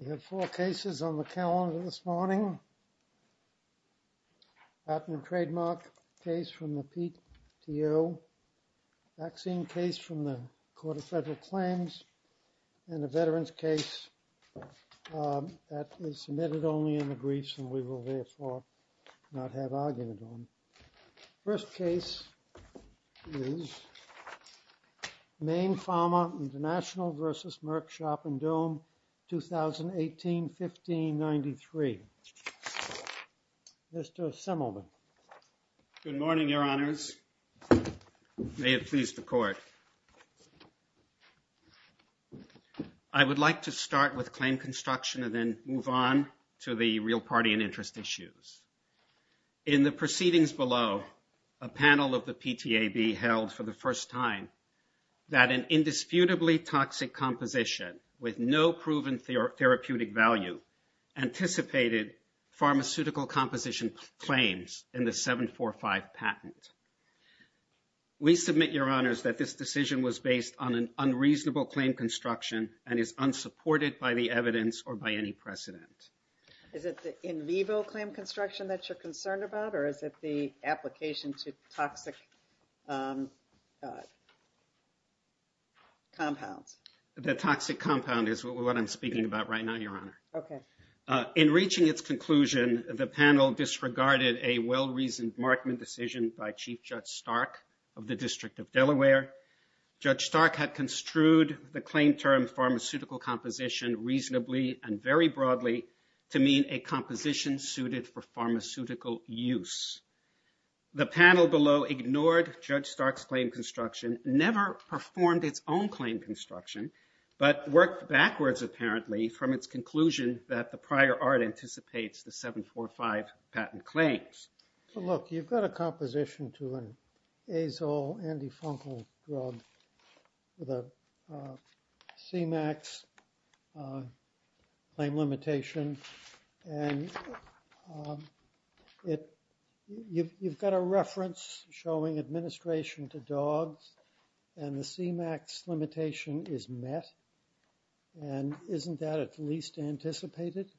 We have four cases on the calendar this morning. Patent and trademark case from the PTO. Vaccine case from the Court of Federal Claims. And a veteran's case that is submitted only in the briefs and we will therefore not have argument on. First case is Maine Pharma International v. Merck Sharp & Dohme, 2018-1593. Mr. Simelman. Good morning, Your Honors. May it please the Court. I would like to start with claim construction and then move on to the real party and interest issues. In the proceedings below, a panel of the PTAB held for the first time that an indisputably toxic composition with no proven therapeutic value anticipated pharmaceutical composition claims in the 745 patent. We submit, Your Honors, that this decision was based on an unreasonable claim construction and is unsupported by the evidence or by any precedent. Is it the in vivo claim construction that you're concerned about or is it the application to toxic compounds? The toxic compound is what I'm speaking about right now, Your Honor. In reaching its conclusion, the panel disregarded a well-reasoned Markman decision by Chief Judge Stark of the District of Delaware. Judge Stark had construed the claim term pharmaceutical composition reasonably and very broadly to mean a composition suited for pharmaceutical use. The panel below ignored Judge Stark's claim construction, never performed its own claim construction, but worked backwards apparently from its conclusion that the prior art anticipates the 745 patent claims. Look, you've got a composition to an azole antifungal drug with a CMAX claim limitation. And you've got a reference showing administration to dogs and the CMAX limitation is met. And isn't that at least anticipated?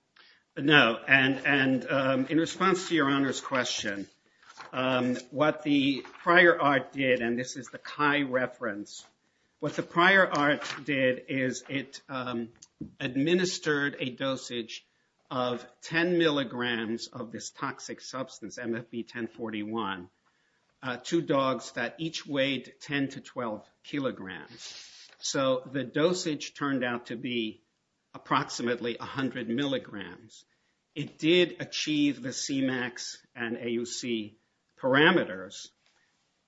No, and in response to Your Honor's question, what the prior art did, and this is the CHI reference, what the prior art did is it administered a dosage of 10 milligrams of this toxic substance, MFB-1041, to dogs that each weighed 10 to 12 kilograms. So the dosage turned out to be approximately 100 milligrams. It did achieve the CMAX and AUC parameters,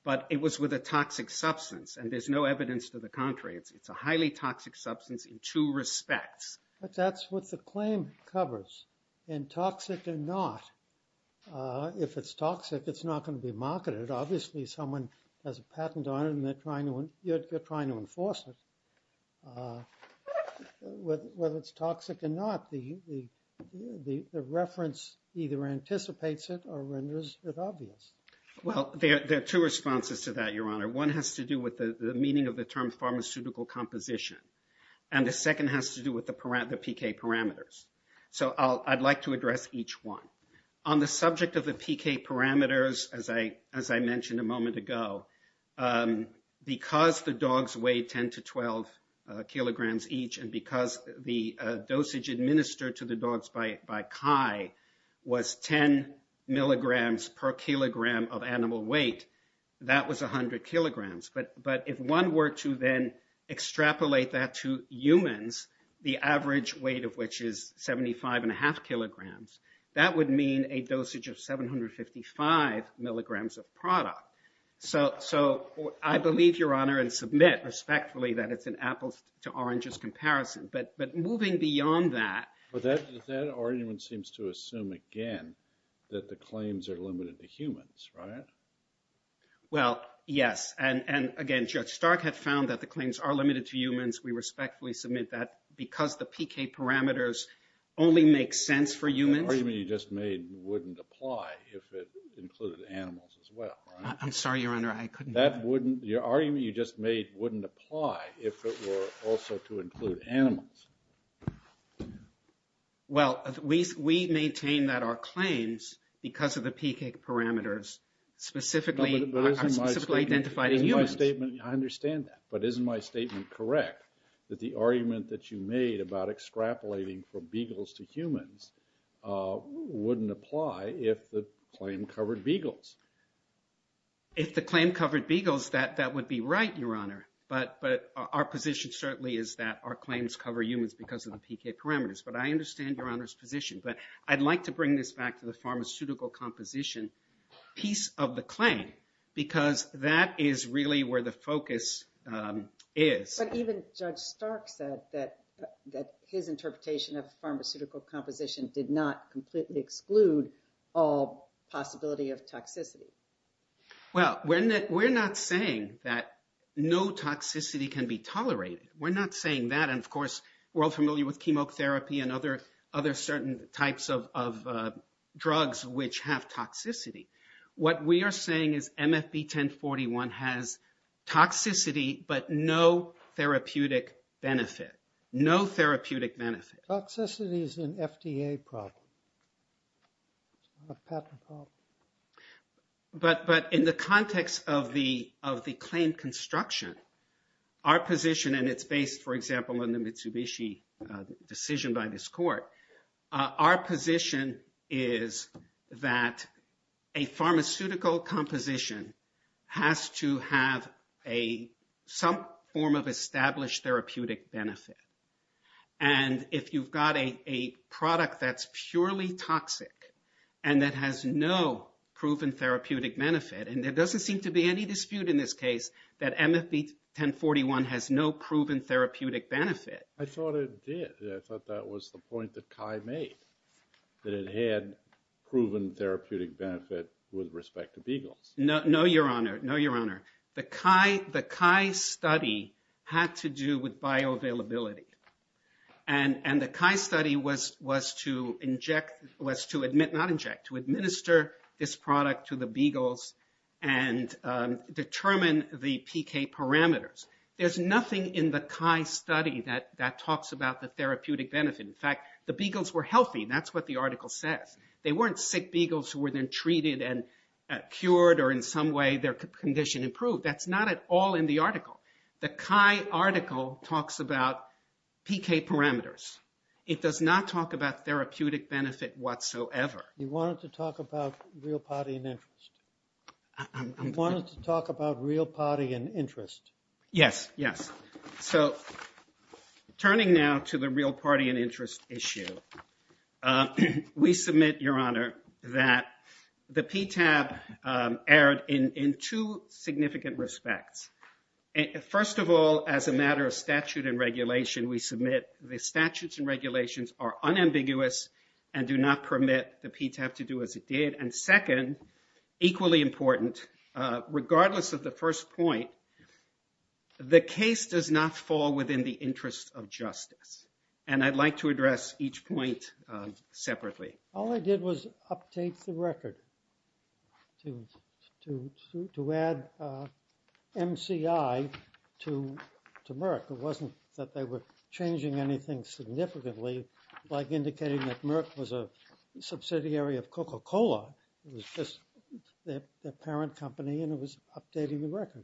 but it was with a toxic substance and there's no evidence to the contrary. It's a highly toxic substance in two respects. But that's what the claim covers, in toxic or not. If it's toxic, it's not going to be marketed. Obviously, someone has a patent on it and they're trying to enforce it. Whether it's toxic or not, the reference either anticipates it or renders it obvious. Well, there are two responses to that, Your Honor. One has to do with the meaning of the term pharmaceutical composition. And the second has to do with the PK parameters. So I'd like to address each one. On the subject of the PK parameters, as I mentioned a moment ago, because the dogs weighed 10 to 12 kilograms each, and because the dosage administered to the dogs by CHI was 10 milligrams per kilogram of animal weight, that was 100 kilograms. But if one were to then extrapolate that to humans, the average weight of which is 75.5 kilograms, that would mean a dosage of 755 milligrams of product. So I believe, Your Honor, and submit respectfully that it's an apples-to-oranges comparison. But moving beyond that... But that argument seems to assume, again, that the claims are limited to humans, right? Well, yes. And again, Judge Stark had found that the claims are limited to humans. We respectfully submit that because the PK parameters only make sense for humans. The argument you just made wouldn't apply if it included animals as well, right? I'm sorry, Your Honor, I couldn't... Your argument you just made wouldn't apply if it were also to include animals. Well, we maintain that our claims, because of the PK parameters, are specifically identified in humans. I understand that. But isn't my statement correct that the argument that you made about extrapolating from beagles to humans wouldn't apply if the claim covered beagles? If the claim covered beagles, that would be right, Your Honor. But our position certainly is that our claims cover humans because of the PK parameters. But I understand Your Honor's position. But I'd like to bring this back to the pharmaceutical composition piece of the claim, because that is really where the focus is. But even Judge Stark said that his interpretation of pharmaceutical composition did not completely exclude all possibility of toxicity. Well, we're not saying that no toxicity can be tolerated. We're not saying that. And, of course, we're all familiar with chemotherapy and other certain types of drugs which have toxicity. What we are saying is MFB 1041 has toxicity but no therapeutic benefit. No therapeutic benefit. Toxicity is an FDA problem, not a patent problem. But in the context of the claim construction, our position, and it's based, for example, on the Mitsubishi decision by this court, our position is that a pharmaceutical composition has to have some form of established therapeutic benefit. And if you've got a product that's purely toxic and that has no proven therapeutic benefit, and there doesn't seem to be any dispute in this case that MFB 1041 has no proven therapeutic benefit. I thought it did. I thought that was the point that CHI made, that it had proven therapeutic benefit with respect to Beagles. No, Your Honor. No, Your Honor. The CHI study had to do with bioavailability. And the CHI study was to administer this product to the Beagles and determine the PK parameters. There's nothing in the CHI study that talks about the therapeutic benefit. In fact, the Beagles were healthy. That's what the article says. They weren't sick Beagles who were then treated and cured or in some way their condition improved. That's not at all in the article. The CHI article talks about PK parameters. It does not talk about therapeutic benefit whatsoever. You wanted to talk about real potty and interest. You wanted to talk about real potty and interest. Yes, yes. So turning now to the real potty and interest issue, we submit, Your Honor, that the PTAB erred in two significant respects. First of all, as a matter of statute and regulation, we submit the statutes and regulations are unambiguous and do not permit the PTAB to do as it did. And second, equally important, regardless of the first point, the case does not fall within the interest of justice. And I'd like to address each point separately. All I did was update the record to add MCI to Merck. It wasn't that they were changing anything significantly, like indicating that Merck was a subsidiary of Coca-Cola. It was just their parent company and it was updating the record.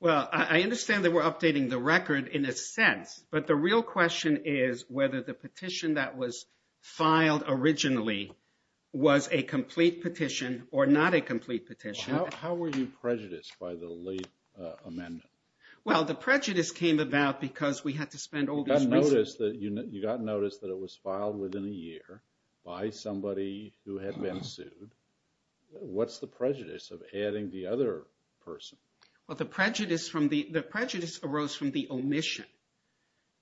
Well, I understand that we're updating the record in a sense, but the real question is whether the petition that was filed originally was a complete petition or not a complete petition. How were you prejudiced by the late amendment? Well, the prejudice came about because we had to spend all these resources. You got notice that it was filed within a year by somebody who had been sued. What's the prejudice of adding the other person? Well, the prejudice arose from the omission.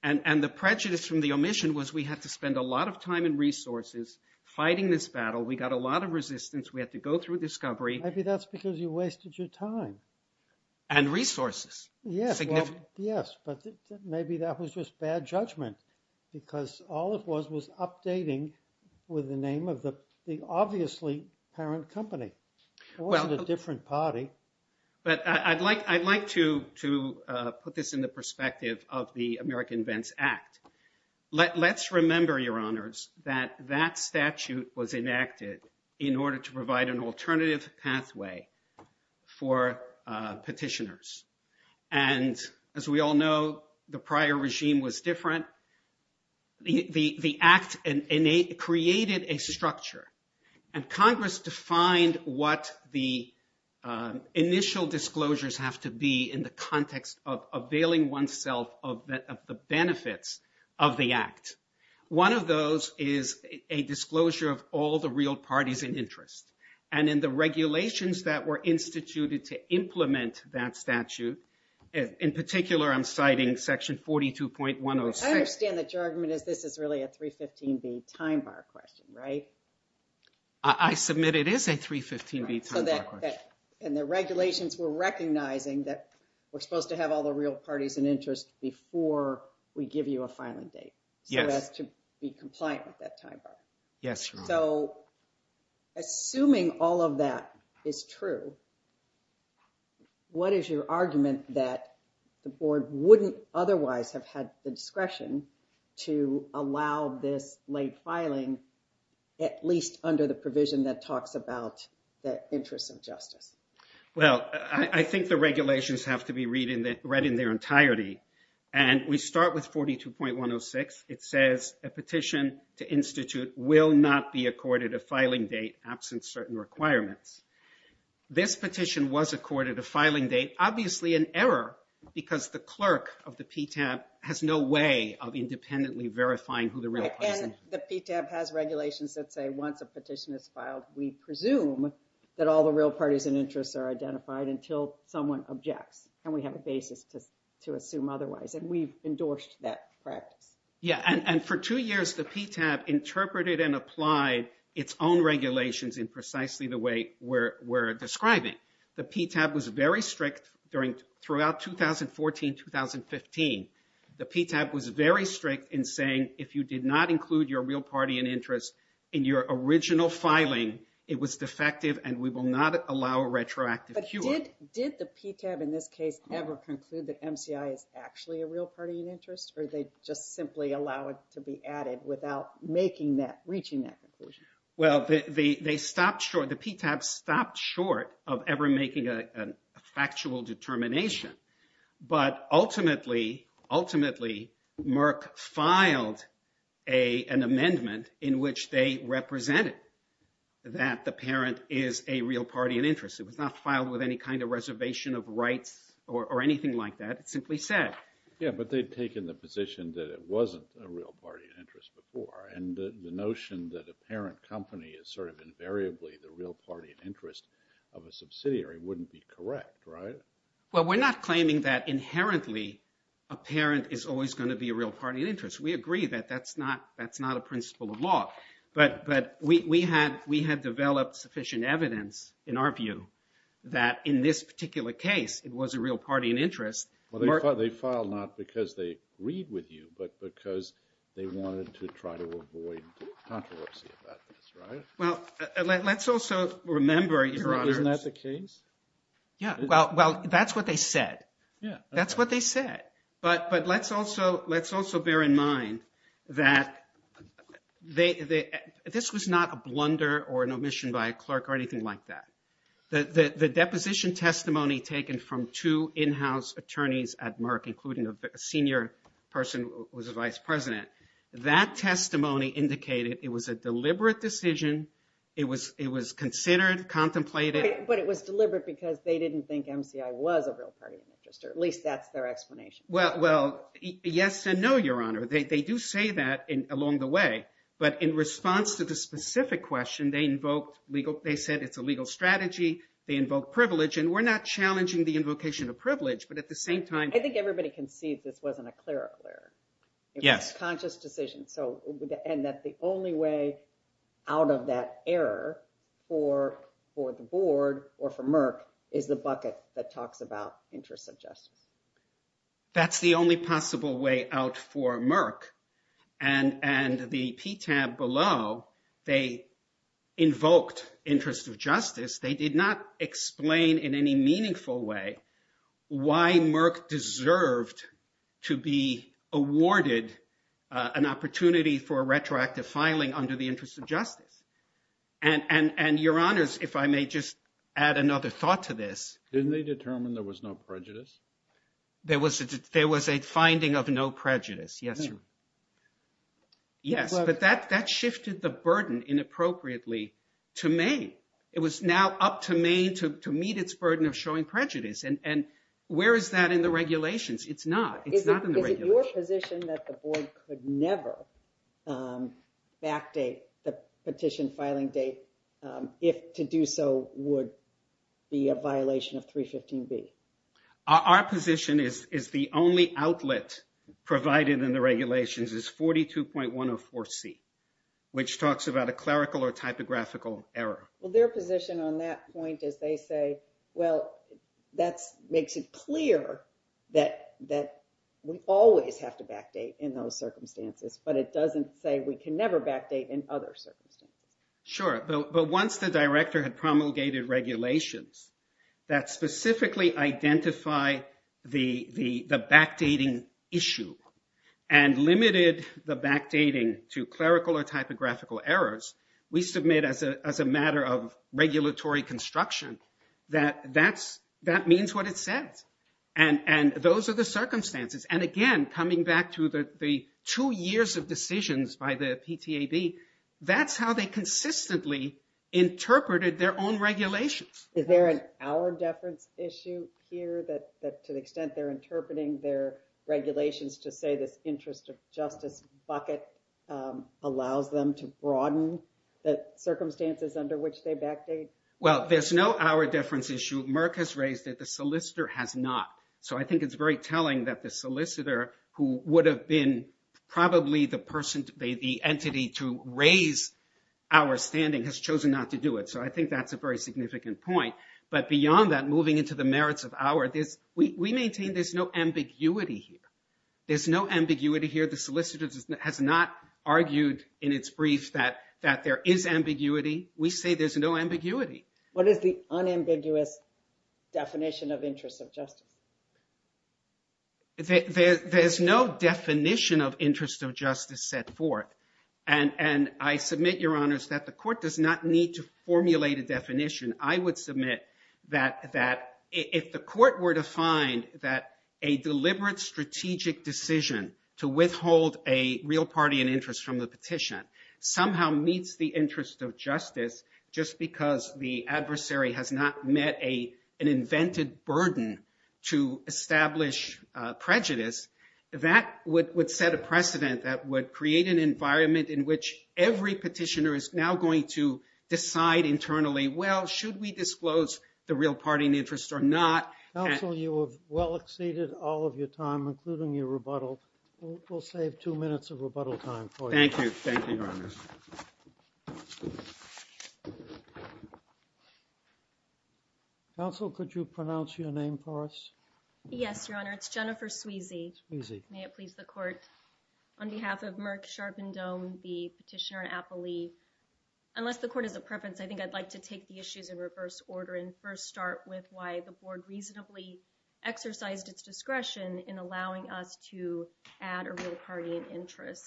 And the prejudice from the omission was we had to spend a lot of time and resources fighting this battle. We got a lot of resistance. We had to go through discovery. Maybe that's because you wasted your time. And resources. Yes, but maybe that was just bad judgment because all it was was updating with the name of the obviously parent company. It wasn't a different party. But I'd like to put this in the perspective of the American Vents Act. Let's remember, Your Honors, that that statute was enacted in order to provide an alternative pathway for petitioners. And as we all know, the prior regime was different. The act created a structure. And Congress defined what the initial disclosures have to be in the context of availing oneself of the benefits of the act. One of those is a disclosure of all the real parties in interest. And in the regulations that were instituted to implement that statute, in particular, I'm citing section 42.106. I understand that your argument is this is really a 315B time bar question, right? I submit it is a 315B time bar question. And the regulations were recognizing that we're supposed to have all the real parties in interest before we give you a filing date. Yes. So as to be compliant with that time bar. Yes, Your Honor. So assuming all of that is true, what is your argument that the board wouldn't otherwise have had the discretion to allow this late filing at least under the provision that talks about the interests of justice? Well, I think the regulations have to be read in their entirety. And we start with 42.106. It says a petition to institute will not be accorded a filing date absent certain requirements. This petition was accorded a filing date, obviously an error, because the clerk of the PTAB has no way of independently verifying who the real parties are. And the PTAB has regulations that say once a petition is filed, we presume that all the real parties in interest are identified until someone objects. And we have a basis to assume otherwise. And we've endorsed that practice. Yeah, and for two years the PTAB interpreted and applied its own regulations in precisely the way we're describing. The PTAB was very strict throughout 2014-2015. The PTAB was very strict in saying if you did not include your real party in interest in your original filing, it was defective and we will not allow a retroactive cure. Did the PTAB in this case ever conclude that MCI is actually a real party in interest? Or did they just simply allow it to be added without reaching that conclusion? Well, the PTAB stopped short of ever making a factual determination. But ultimately, ultimately, Merck filed an amendment in which they represented that the parent is a real party in interest. It was not filed with any kind of reservation of rights or anything like that. It simply said. Yeah, but they've taken the position that it wasn't a real party in interest before. And the notion that a parent company is sort of invariably the real party in interest of a subsidiary wouldn't be correct, right? Well, we're not claiming that inherently a parent is always going to be a real party in interest. We agree that that's not a principle of law. But we had developed sufficient evidence in our view that in this particular case, it was a real party in interest. Well, they filed not because they agreed with you, but because they wanted to try to avoid controversy about this, right? Well, let's also remember, Your Honor. Isn't that the case? Yeah. Well, that's what they said. Yeah. That's what they said. But let's also bear in mind that this was not a blunder or an omission by a clerk or anything like that. The deposition testimony taken from two in-house attorneys at Merck, including a senior person who was a vice president, that testimony indicated it was a deliberate decision. It was considered, contemplated. But it was deliberate because they didn't think MCI was a real party in interest, or at least that's their explanation. Well, yes and no, Your Honor. They do say that along the way. But in response to the specific question, they invoked legal – they said it's a legal strategy. They invoked privilege. And we're not challenging the invocation of privilege, but at the same time – I think everybody can see this wasn't a clerical error. Yes. It was a conscious decision. And that the only way out of that error for the board or for Merck is the bucket that talks about interest of justice. That's the only possible way out for Merck. And the PTAB below, they invoked interest of justice. They did not explain in any meaningful way why Merck deserved to be awarded an opportunity for a retroactive filing under the interest of justice. And, Your Honors, if I may just add another thought to this. Didn't they determine there was no prejudice? There was a finding of no prejudice, yes, sir. Yes, but that shifted the burden inappropriately to me. It was now up to me to meet its burden of showing prejudice. And where is that in the regulations? It's not. It's not in the regulations. Is it your position that the board could never backdate the petition filing date if to do so would be a violation of 315B? Our position is the only outlet provided in the regulations is 42.104C, which talks about a clerical or typographical error. Well, their position on that point is they say, well, that makes it clear that we always have to backdate in those circumstances, but it doesn't say we can never backdate in other circumstances. Sure. But once the director had promulgated regulations that specifically identify the backdating issue and limited the backdating to clerical or typographical errors, we submit as a matter of regulatory construction that that means what it says. And those are the circumstances. And again, coming back to the two years of decisions by the PTAB, that's how they consistently interpreted their own regulations. Is there an hour deference issue here that to the extent they're interpreting their regulations to say this interest of justice bucket allows them to broaden the circumstances under which they backdate? Well, there's no hour deference issue. Merck has raised it. The solicitor has not. So I think it's very telling that the solicitor who would have been probably the entity to raise our standing has chosen not to do it. So I think that's a very significant point. But beyond that, moving into the merits of hour, we maintain there's no ambiguity here. There's no ambiguity here. The solicitor has not argued in its brief that there is ambiguity. We say there's no ambiguity. What is the unambiguous definition of interest of justice? There's no definition of interest of justice set forth. And I submit, Your Honors, that the court does not need to formulate a definition. I would submit that if the court were to find that a deliberate strategic decision to withhold a real party in interest from the petition somehow meets the interest of justice just because the adversary has not met an invented burden to establish prejudice, that would set a precedent that would create an environment in which every petitioner is now going to decide internally, well, should we disclose the real party in interest or not? Counsel, you have well exceeded all of your time, including your rebuttal. We'll save two minutes of rebuttal time for you. Thank you. Thank you, Your Honors. Counsel, could you pronounce your name for us? Yes, Your Honor. It's Jennifer Sweezy. May it please the court. On behalf of Merck, Sharpe, and Dohm, the petitioner and appellee, unless the court has a preference, I think I'd like to take the issues in reverse order and first start with why the board reasonably exercised its discretion in allowing us to add a real party in interest.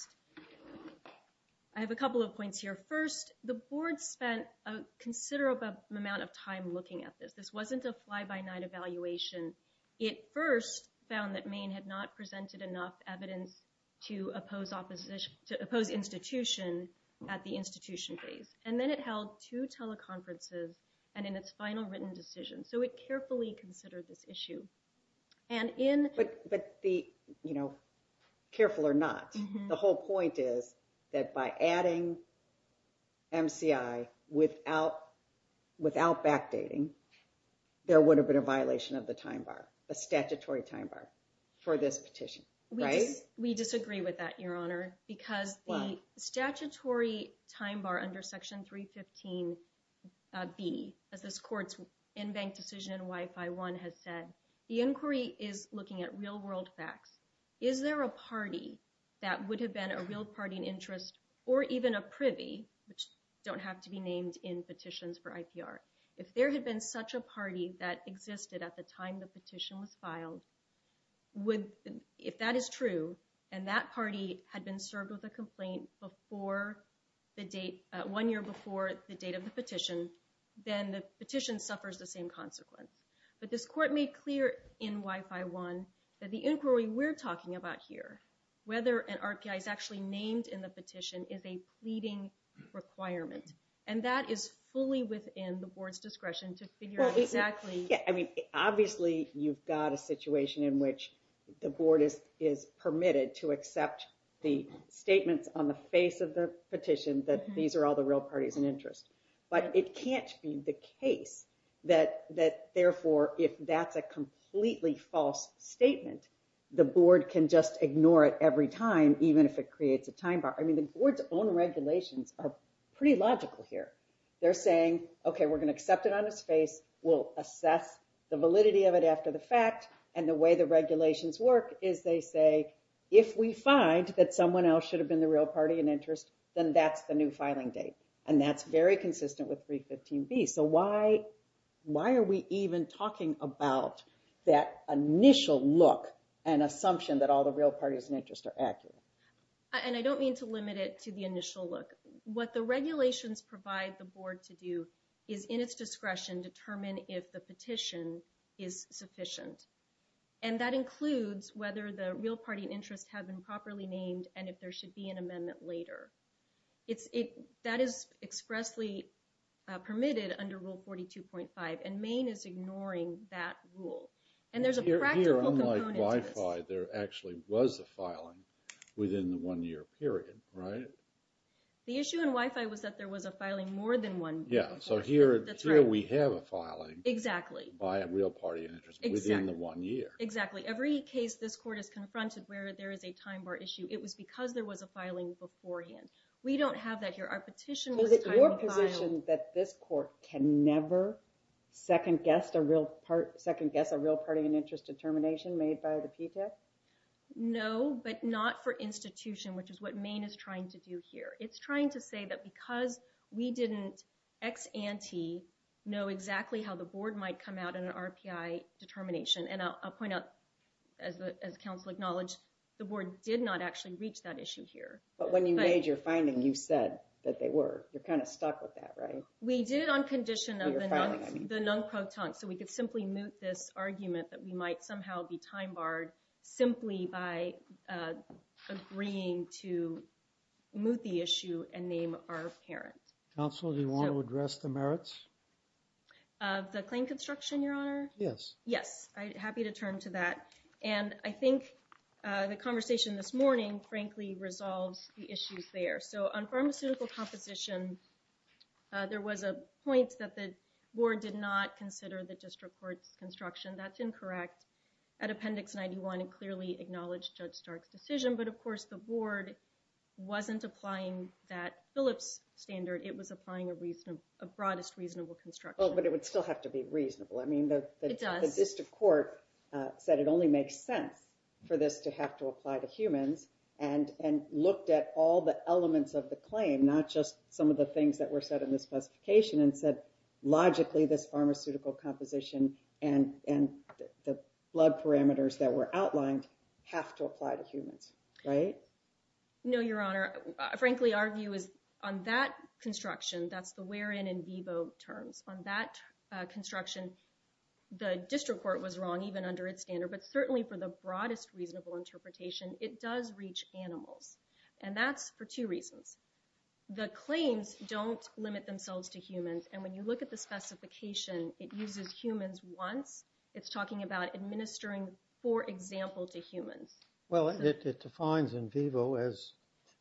I have a couple of points here. First, the board spent a considerable amount of time looking at this. This wasn't a fly-by-night evaluation. It first found that Maine had not presented enough evidence to oppose institution at the institution phase. And then it held two teleconferences and in its final written decision. So it carefully considered this issue. But careful or not, the whole point is that by adding MCI without backdating, there would have been a violation of the statutory time bar for this petition. We disagree with that, Your Honor. Because the statutory time bar under Section 315B, as this court's in-bank decision in Y-5-1 has said, the inquiry is looking at real-world facts. Is there a party that would have been a real party in interest or even a privy, which don't have to be named in petitions for IPR, if there had been such a party that existed at the time the petition was filed, if that is true and that party had been served with a complaint one year before the date of the petition, then the petition suffers the same consequence. But this court made clear in Y-5-1 that the inquiry we're talking about here, whether an RPI is actually named in the petition, is a pleading requirement. And that is fully within the board's discretion to figure out exactly— Obviously, you've got a situation in which the board is permitted to accept the statements on the face of the petition that these are all the real parties in interest. But it can't be the case that, therefore, if that's a completely false statement, the board can just ignore it every time, even if it creates a time bar. I mean, the board's own regulations are pretty logical here. They're saying, OK, we're going to accept it on its face. We'll assess the validity of it after the fact. And the way the regulations work is they say, if we find that someone else should have been the real party in interest, then that's the new filing date. And that's very consistent with 315B. So why are we even talking about that initial look and assumption that all the real parties in interest are accurate? And I don't mean to limit it to the initial look. What the regulations provide the board to do is, in its discretion, determine if the petition is sufficient. And that includes whether the real party in interest have been properly named and if there should be an amendment later. That is expressly permitted under Rule 42.5, and Maine is ignoring that rule. And there's a practical component to this. Here, unlike Wi-Fi, there actually was a filing within the one-year period, right? The issue in Wi-Fi was that there was a filing more than one year. Yeah, so here we have a filing by a real party in interest within the one year. Exactly. Every case this court has confronted where there is a time bar issue, it was because there was a filing beforehand. We don't have that here. So is it your position that this court can never second-guess a real party in interest determination made by the PTAC? No, but not for institution, which is what Maine is trying to do here. It's trying to say that because we didn't ex ante know exactly how the board might come out in an RPI determination, and I'll point out, as counsel acknowledged, the board did not actually reach that issue here. But when you made your finding, you said that they were. You're kind of stuck with that, right? We did it on condition of the non-proton, so we could simply moot this argument that we might somehow be time-barred simply by agreeing to moot the issue and name our parents. Counsel, do you want to address the merits? The claim construction, Your Honor? Yes. Yes, I'm happy to turn to that, and I think the conversation this morning, frankly, resolves the issues there. So on pharmaceutical composition, there was a point that the board did not consider the district court's construction. That's incorrect. At Appendix 91, it clearly acknowledged Judge Stark's decision, but, of course, the board wasn't applying that Phillips standard. It was applying a broadest reasonable construction. Oh, but it would still have to be reasonable. It does. I mean, the district court said it only makes sense for this to have to apply to humans and looked at all the elements of the claim, not just some of the things that were said in the specification, and said, logically, this pharmaceutical composition and the blood parameters that were outlined have to apply to humans, right? No, Your Honor. Frankly, our view is on that construction, that's the wherein in vivo terms. On that construction, the district court was wrong even under its standard, but certainly for the broadest reasonable interpretation, it does reach animals, and that's for two reasons. The claims don't limit themselves to humans, and when you look at the specification, it uses humans once. It's talking about administering, for example, to humans. Well, it defines in vivo as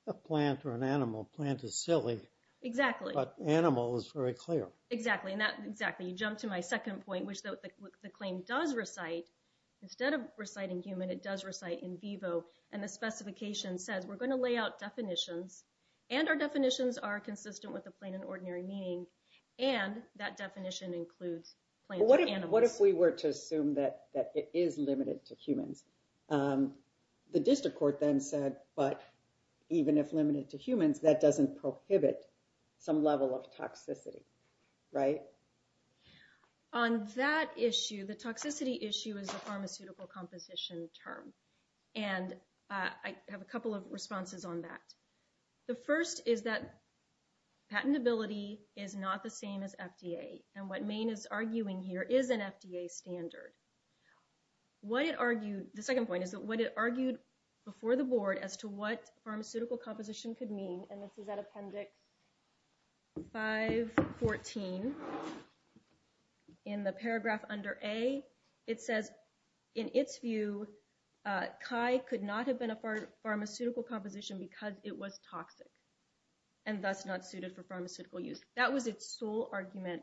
a plant or an animal. Plant is silly. Exactly. But animal is very clear. Exactly, and that's exactly. You jump to my second point, which the claim does recite. Instead of reciting human, it does recite in vivo, and the specification says, we're going to lay out definitions, and our definitions are consistent with the plain and ordinary meaning, and that definition includes plants or animals. What if we were to assume that it is limited to humans? The district court then said, but even if limited to humans, that doesn't prohibit some level of toxicity, right? On that issue, the toxicity issue is a pharmaceutical composition term, and I have a couple of responses on that. The first is that patentability is not the same as FDA, and what Maine is arguing here is an FDA standard. The second point is that what it argued before the board as to what pharmaceutical composition could mean, and this is at Appendix 514 in the paragraph under A, it says, that in its view, CHI could not have been a pharmaceutical composition because it was toxic, and thus not suited for pharmaceutical use. That was its sole argument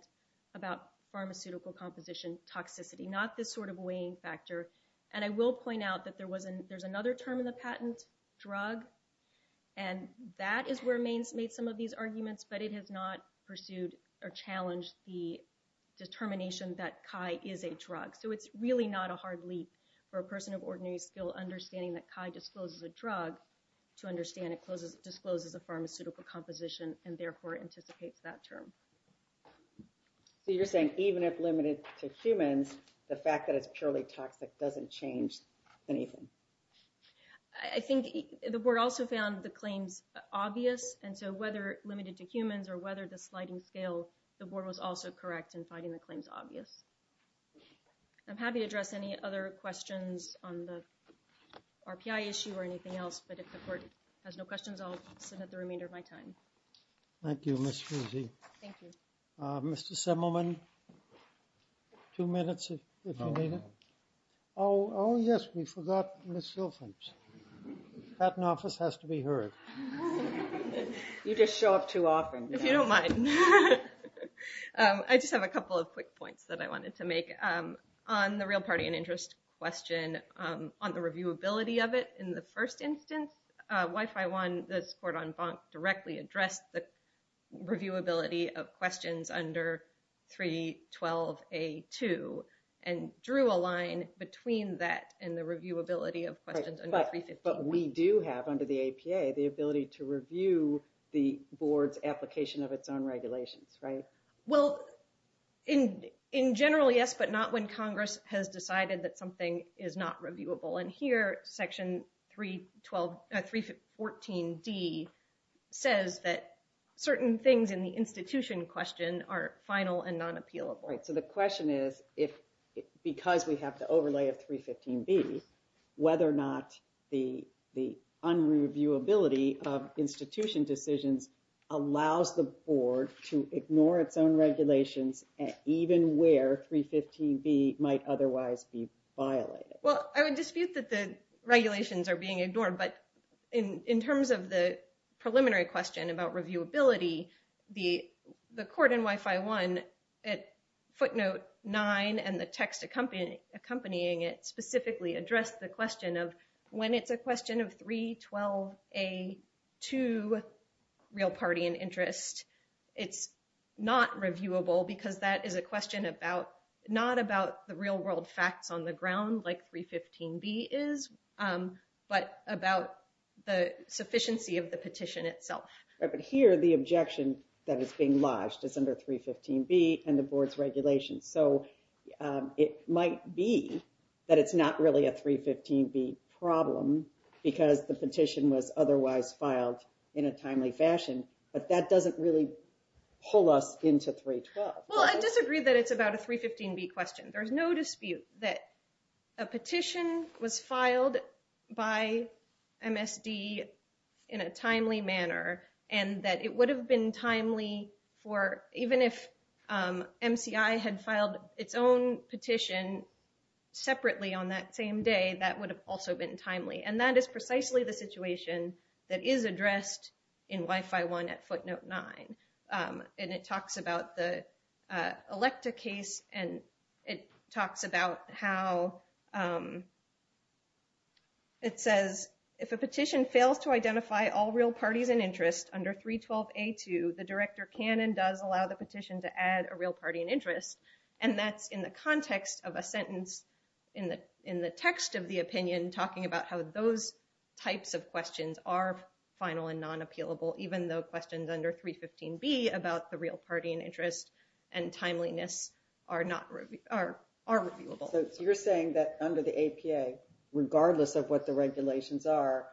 about pharmaceutical composition toxicity, not this sort of weighing factor, and I will point out that there's another term in the patent, drug, and that is where Maine's made some of these arguments, but it has not pursued or challenged the determination that CHI is a drug. So it's really not a hard leap for a person of ordinary skill understanding that CHI discloses a drug to understand it discloses a pharmaceutical composition and therefore anticipates that term. So you're saying even if limited to humans, the fact that it's purely toxic doesn't change anything? I think the board also found the claims obvious, and so whether limited to humans or whether the sliding scale, the board was also correct in finding the claims obvious. I'm happy to address any other questions on the RPI issue or anything else, but if the court has no questions, I'll submit the remainder of my time. Thank you, Ms. Fusey. Thank you. Mr. Simelman, two minutes, if you need it. Oh, yes, we forgot Ms. Silphans. Patent office has to be heard. You just show up too often. If you don't mind. I just have a couple of quick points that I wanted to make. On the real party and interest question, on the reviewability of it in the first instance, WIFI-1, this court en banc directly addressed the reviewability of questions under 312A2 and drew a line between that and the reviewability of questions under 315A2. But we do have, under the APA, the ability to review the board's application of its own regulations, right? Well, in general, yes, but not when Congress has decided that something is not reviewable. And here, Section 314D says that certain things in the institution question are final and non-appealable. Right, so the question is, because we have the overlay of 315B, whether or not the unreviewability of institution decisions allows the board to ignore its own regulations, even where 315B might otherwise be violated. Well, I would dispute that the regulations are being ignored, but in terms of the preliminary question about reviewability, the court in WIFI-1 at footnote 9 and the text accompanying it specifically addressed the question of when it's a question of 312A2, real party and interest, it's not reviewable, because that is a question not about the real world facts on the ground, like 315B is, but about the sufficiency of the petition itself. But here, the objection that is being lodged is under 315B and the board's regulations, so it might be that it's not really a 315B problem because the petition was otherwise filed in a timely fashion, but that doesn't really pull us into 312. Well, I disagree that it's about a 315B question. There's no dispute that a petition was filed by MSD in a timely manner, and that it would have been timely for even if MCI had filed its own petition separately on that same day, that would have also been timely, and that is precisely the situation that is addressed in WIFI-1 at footnote 9. And it talks about the ELECTA case, and it talks about how it says, if a petition fails to identify all real parties and interests under 312A2, the director can and does allow the petition to add a real party and interest, and that's in the context of a sentence in the text of the opinion talking about how those types of questions are final and non-appealable, even though questions under 315B about the real party and interest and timeliness are reviewable. So you're saying that under the APA, regardless of what the regulations are,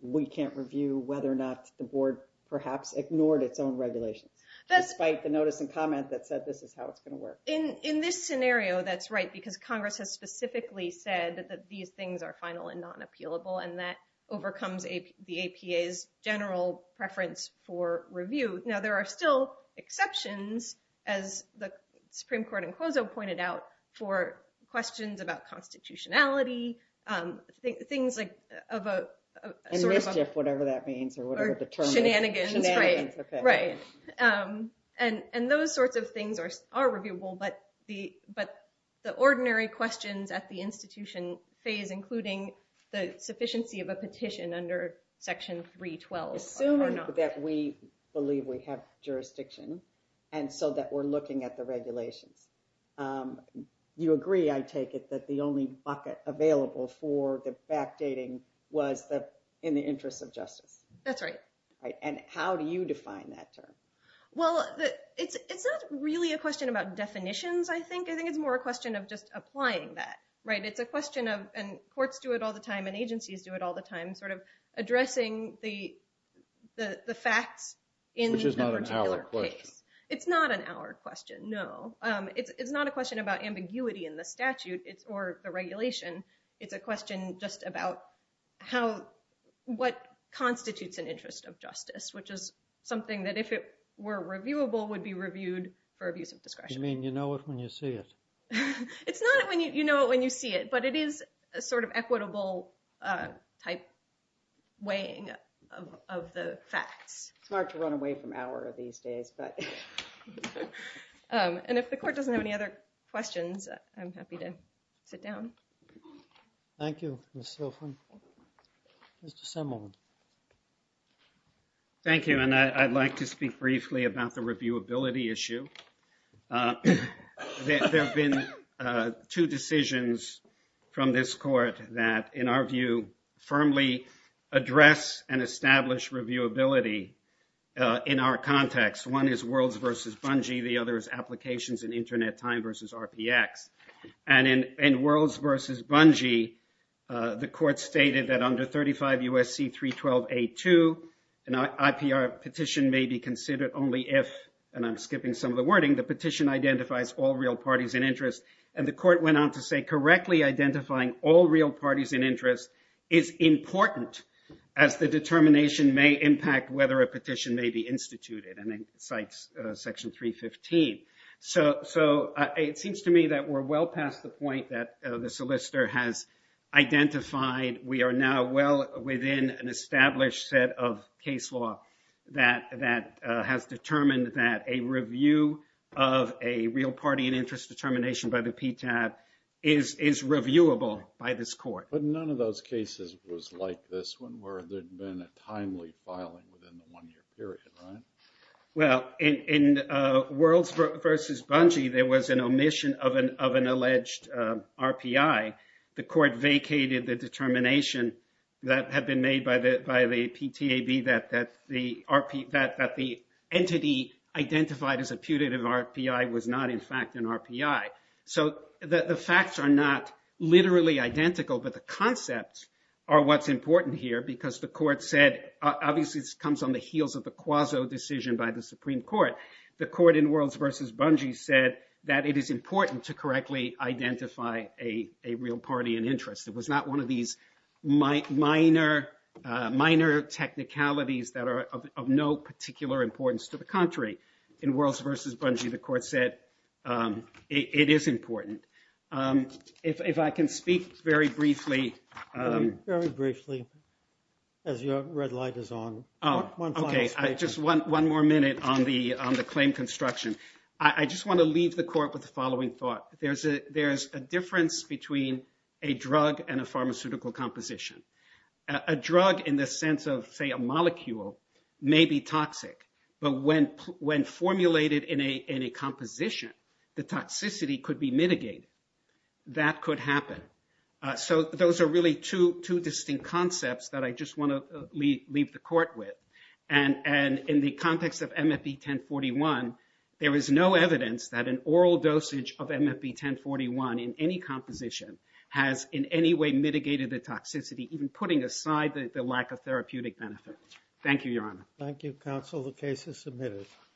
we can't review whether or not the board perhaps ignored its own regulations, despite the notice and comment that said this is how it's going to work. In this scenario, that's right, because Congress has specifically said that these things are final and non-appealable, and that overcomes the APA's general preference for review. Now, there are still exceptions, as the Supreme Court in Clozo pointed out, for questions about constitutionality, things like... And mischief, whatever that means, or whatever the term is. Or shenanigans, right. And those sorts of things are reviewable, but the ordinary questions at the institution phase, including the sufficiency of a petition under section 312... Assume that we believe we have jurisdiction, and so that we're looking at the regulations. You agree, I take it, that the only bucket available for the backdating was in the interest of justice. That's right. And how do you define that term? Well, it's not really a question about definitions, I think. I think it's more a question of just applying that. Right, it's a question of, and courts do it all the time, and agencies do it all the time, sort of addressing the facts in the particular case. Which is not an hour question. It's not an hour question, no. It's not a question about ambiguity in the statute, or the regulation. It's a question just about what constitutes an interest of justice, which is something that if it were reviewable, would be reviewed for abuse of discretion. You mean you know it when you see it? It's not you know it when you see it, but it is a sort of equitable type weighing of the facts. It's hard to run away from hour these days. And if the court doesn't have any other questions, I'm happy to sit down. Thank you, Ms. Silfen. Mr. Semelman. Thank you, and I'd like to speak briefly about the reviewability issue. There have been two decisions from this court that, in our view, firmly address and establish reviewability in our context. One is Worlds v. Bungie, the other is Applications and Internet Time v. RPX. And in Worlds v. Bungie, the court stated that under 35 U.S.C. 312a.2, an IPR petition may be considered only if, and I'm skipping some of the wording, the petition identifies all real parties in interest. And the court went on to say correctly identifying all real parties in interest is important as the determination may impact whether a petition may be instituted, and it cites Section 315. So it seems to me that we're well past the point that the solicitor has identified. We are now well within an established set of case law that has determined that a review of a real party in interest determination by the PTAB is reviewable by this court. But none of those cases was like this one where there had been a timely filing within the one-year period, right? Well, in Worlds v. Bungie, there was an omission of an alleged RPI. The court vacated the determination that had been made by the PTAB that the entity identified as a putative RPI was not in fact an RPI. So the facts are not literally identical, but the concepts are what's important here because the court said, obviously this comes on the heels of the quasi-decision by the Supreme Court. The court in Worlds v. Bungie said that it is important to correctly identify a real party in interest. It was not one of these minor technicalities that are of no particular importance to the country. In Worlds v. Bungie, the court said it is important. If I can speak very briefly. Very briefly, as your red light is on. Okay, just one more minute on the claim construction. I just want to leave the court with the following thought. There's a difference between a drug and a pharmaceutical composition. A drug in the sense of, say, a molecule may be toxic. But when formulated in a composition, the toxicity could be mitigated. That could happen. So those are really two distinct concepts that I just want to leave the court with. And in the context of MFP 1041, there is no evidence that an oral dosage of MFP 1041 in any composition has in any way mitigated the toxicity, even putting aside the lack of therapeutic benefit. Thank you, Your Honor. Thank you, counsel. The case is submitted.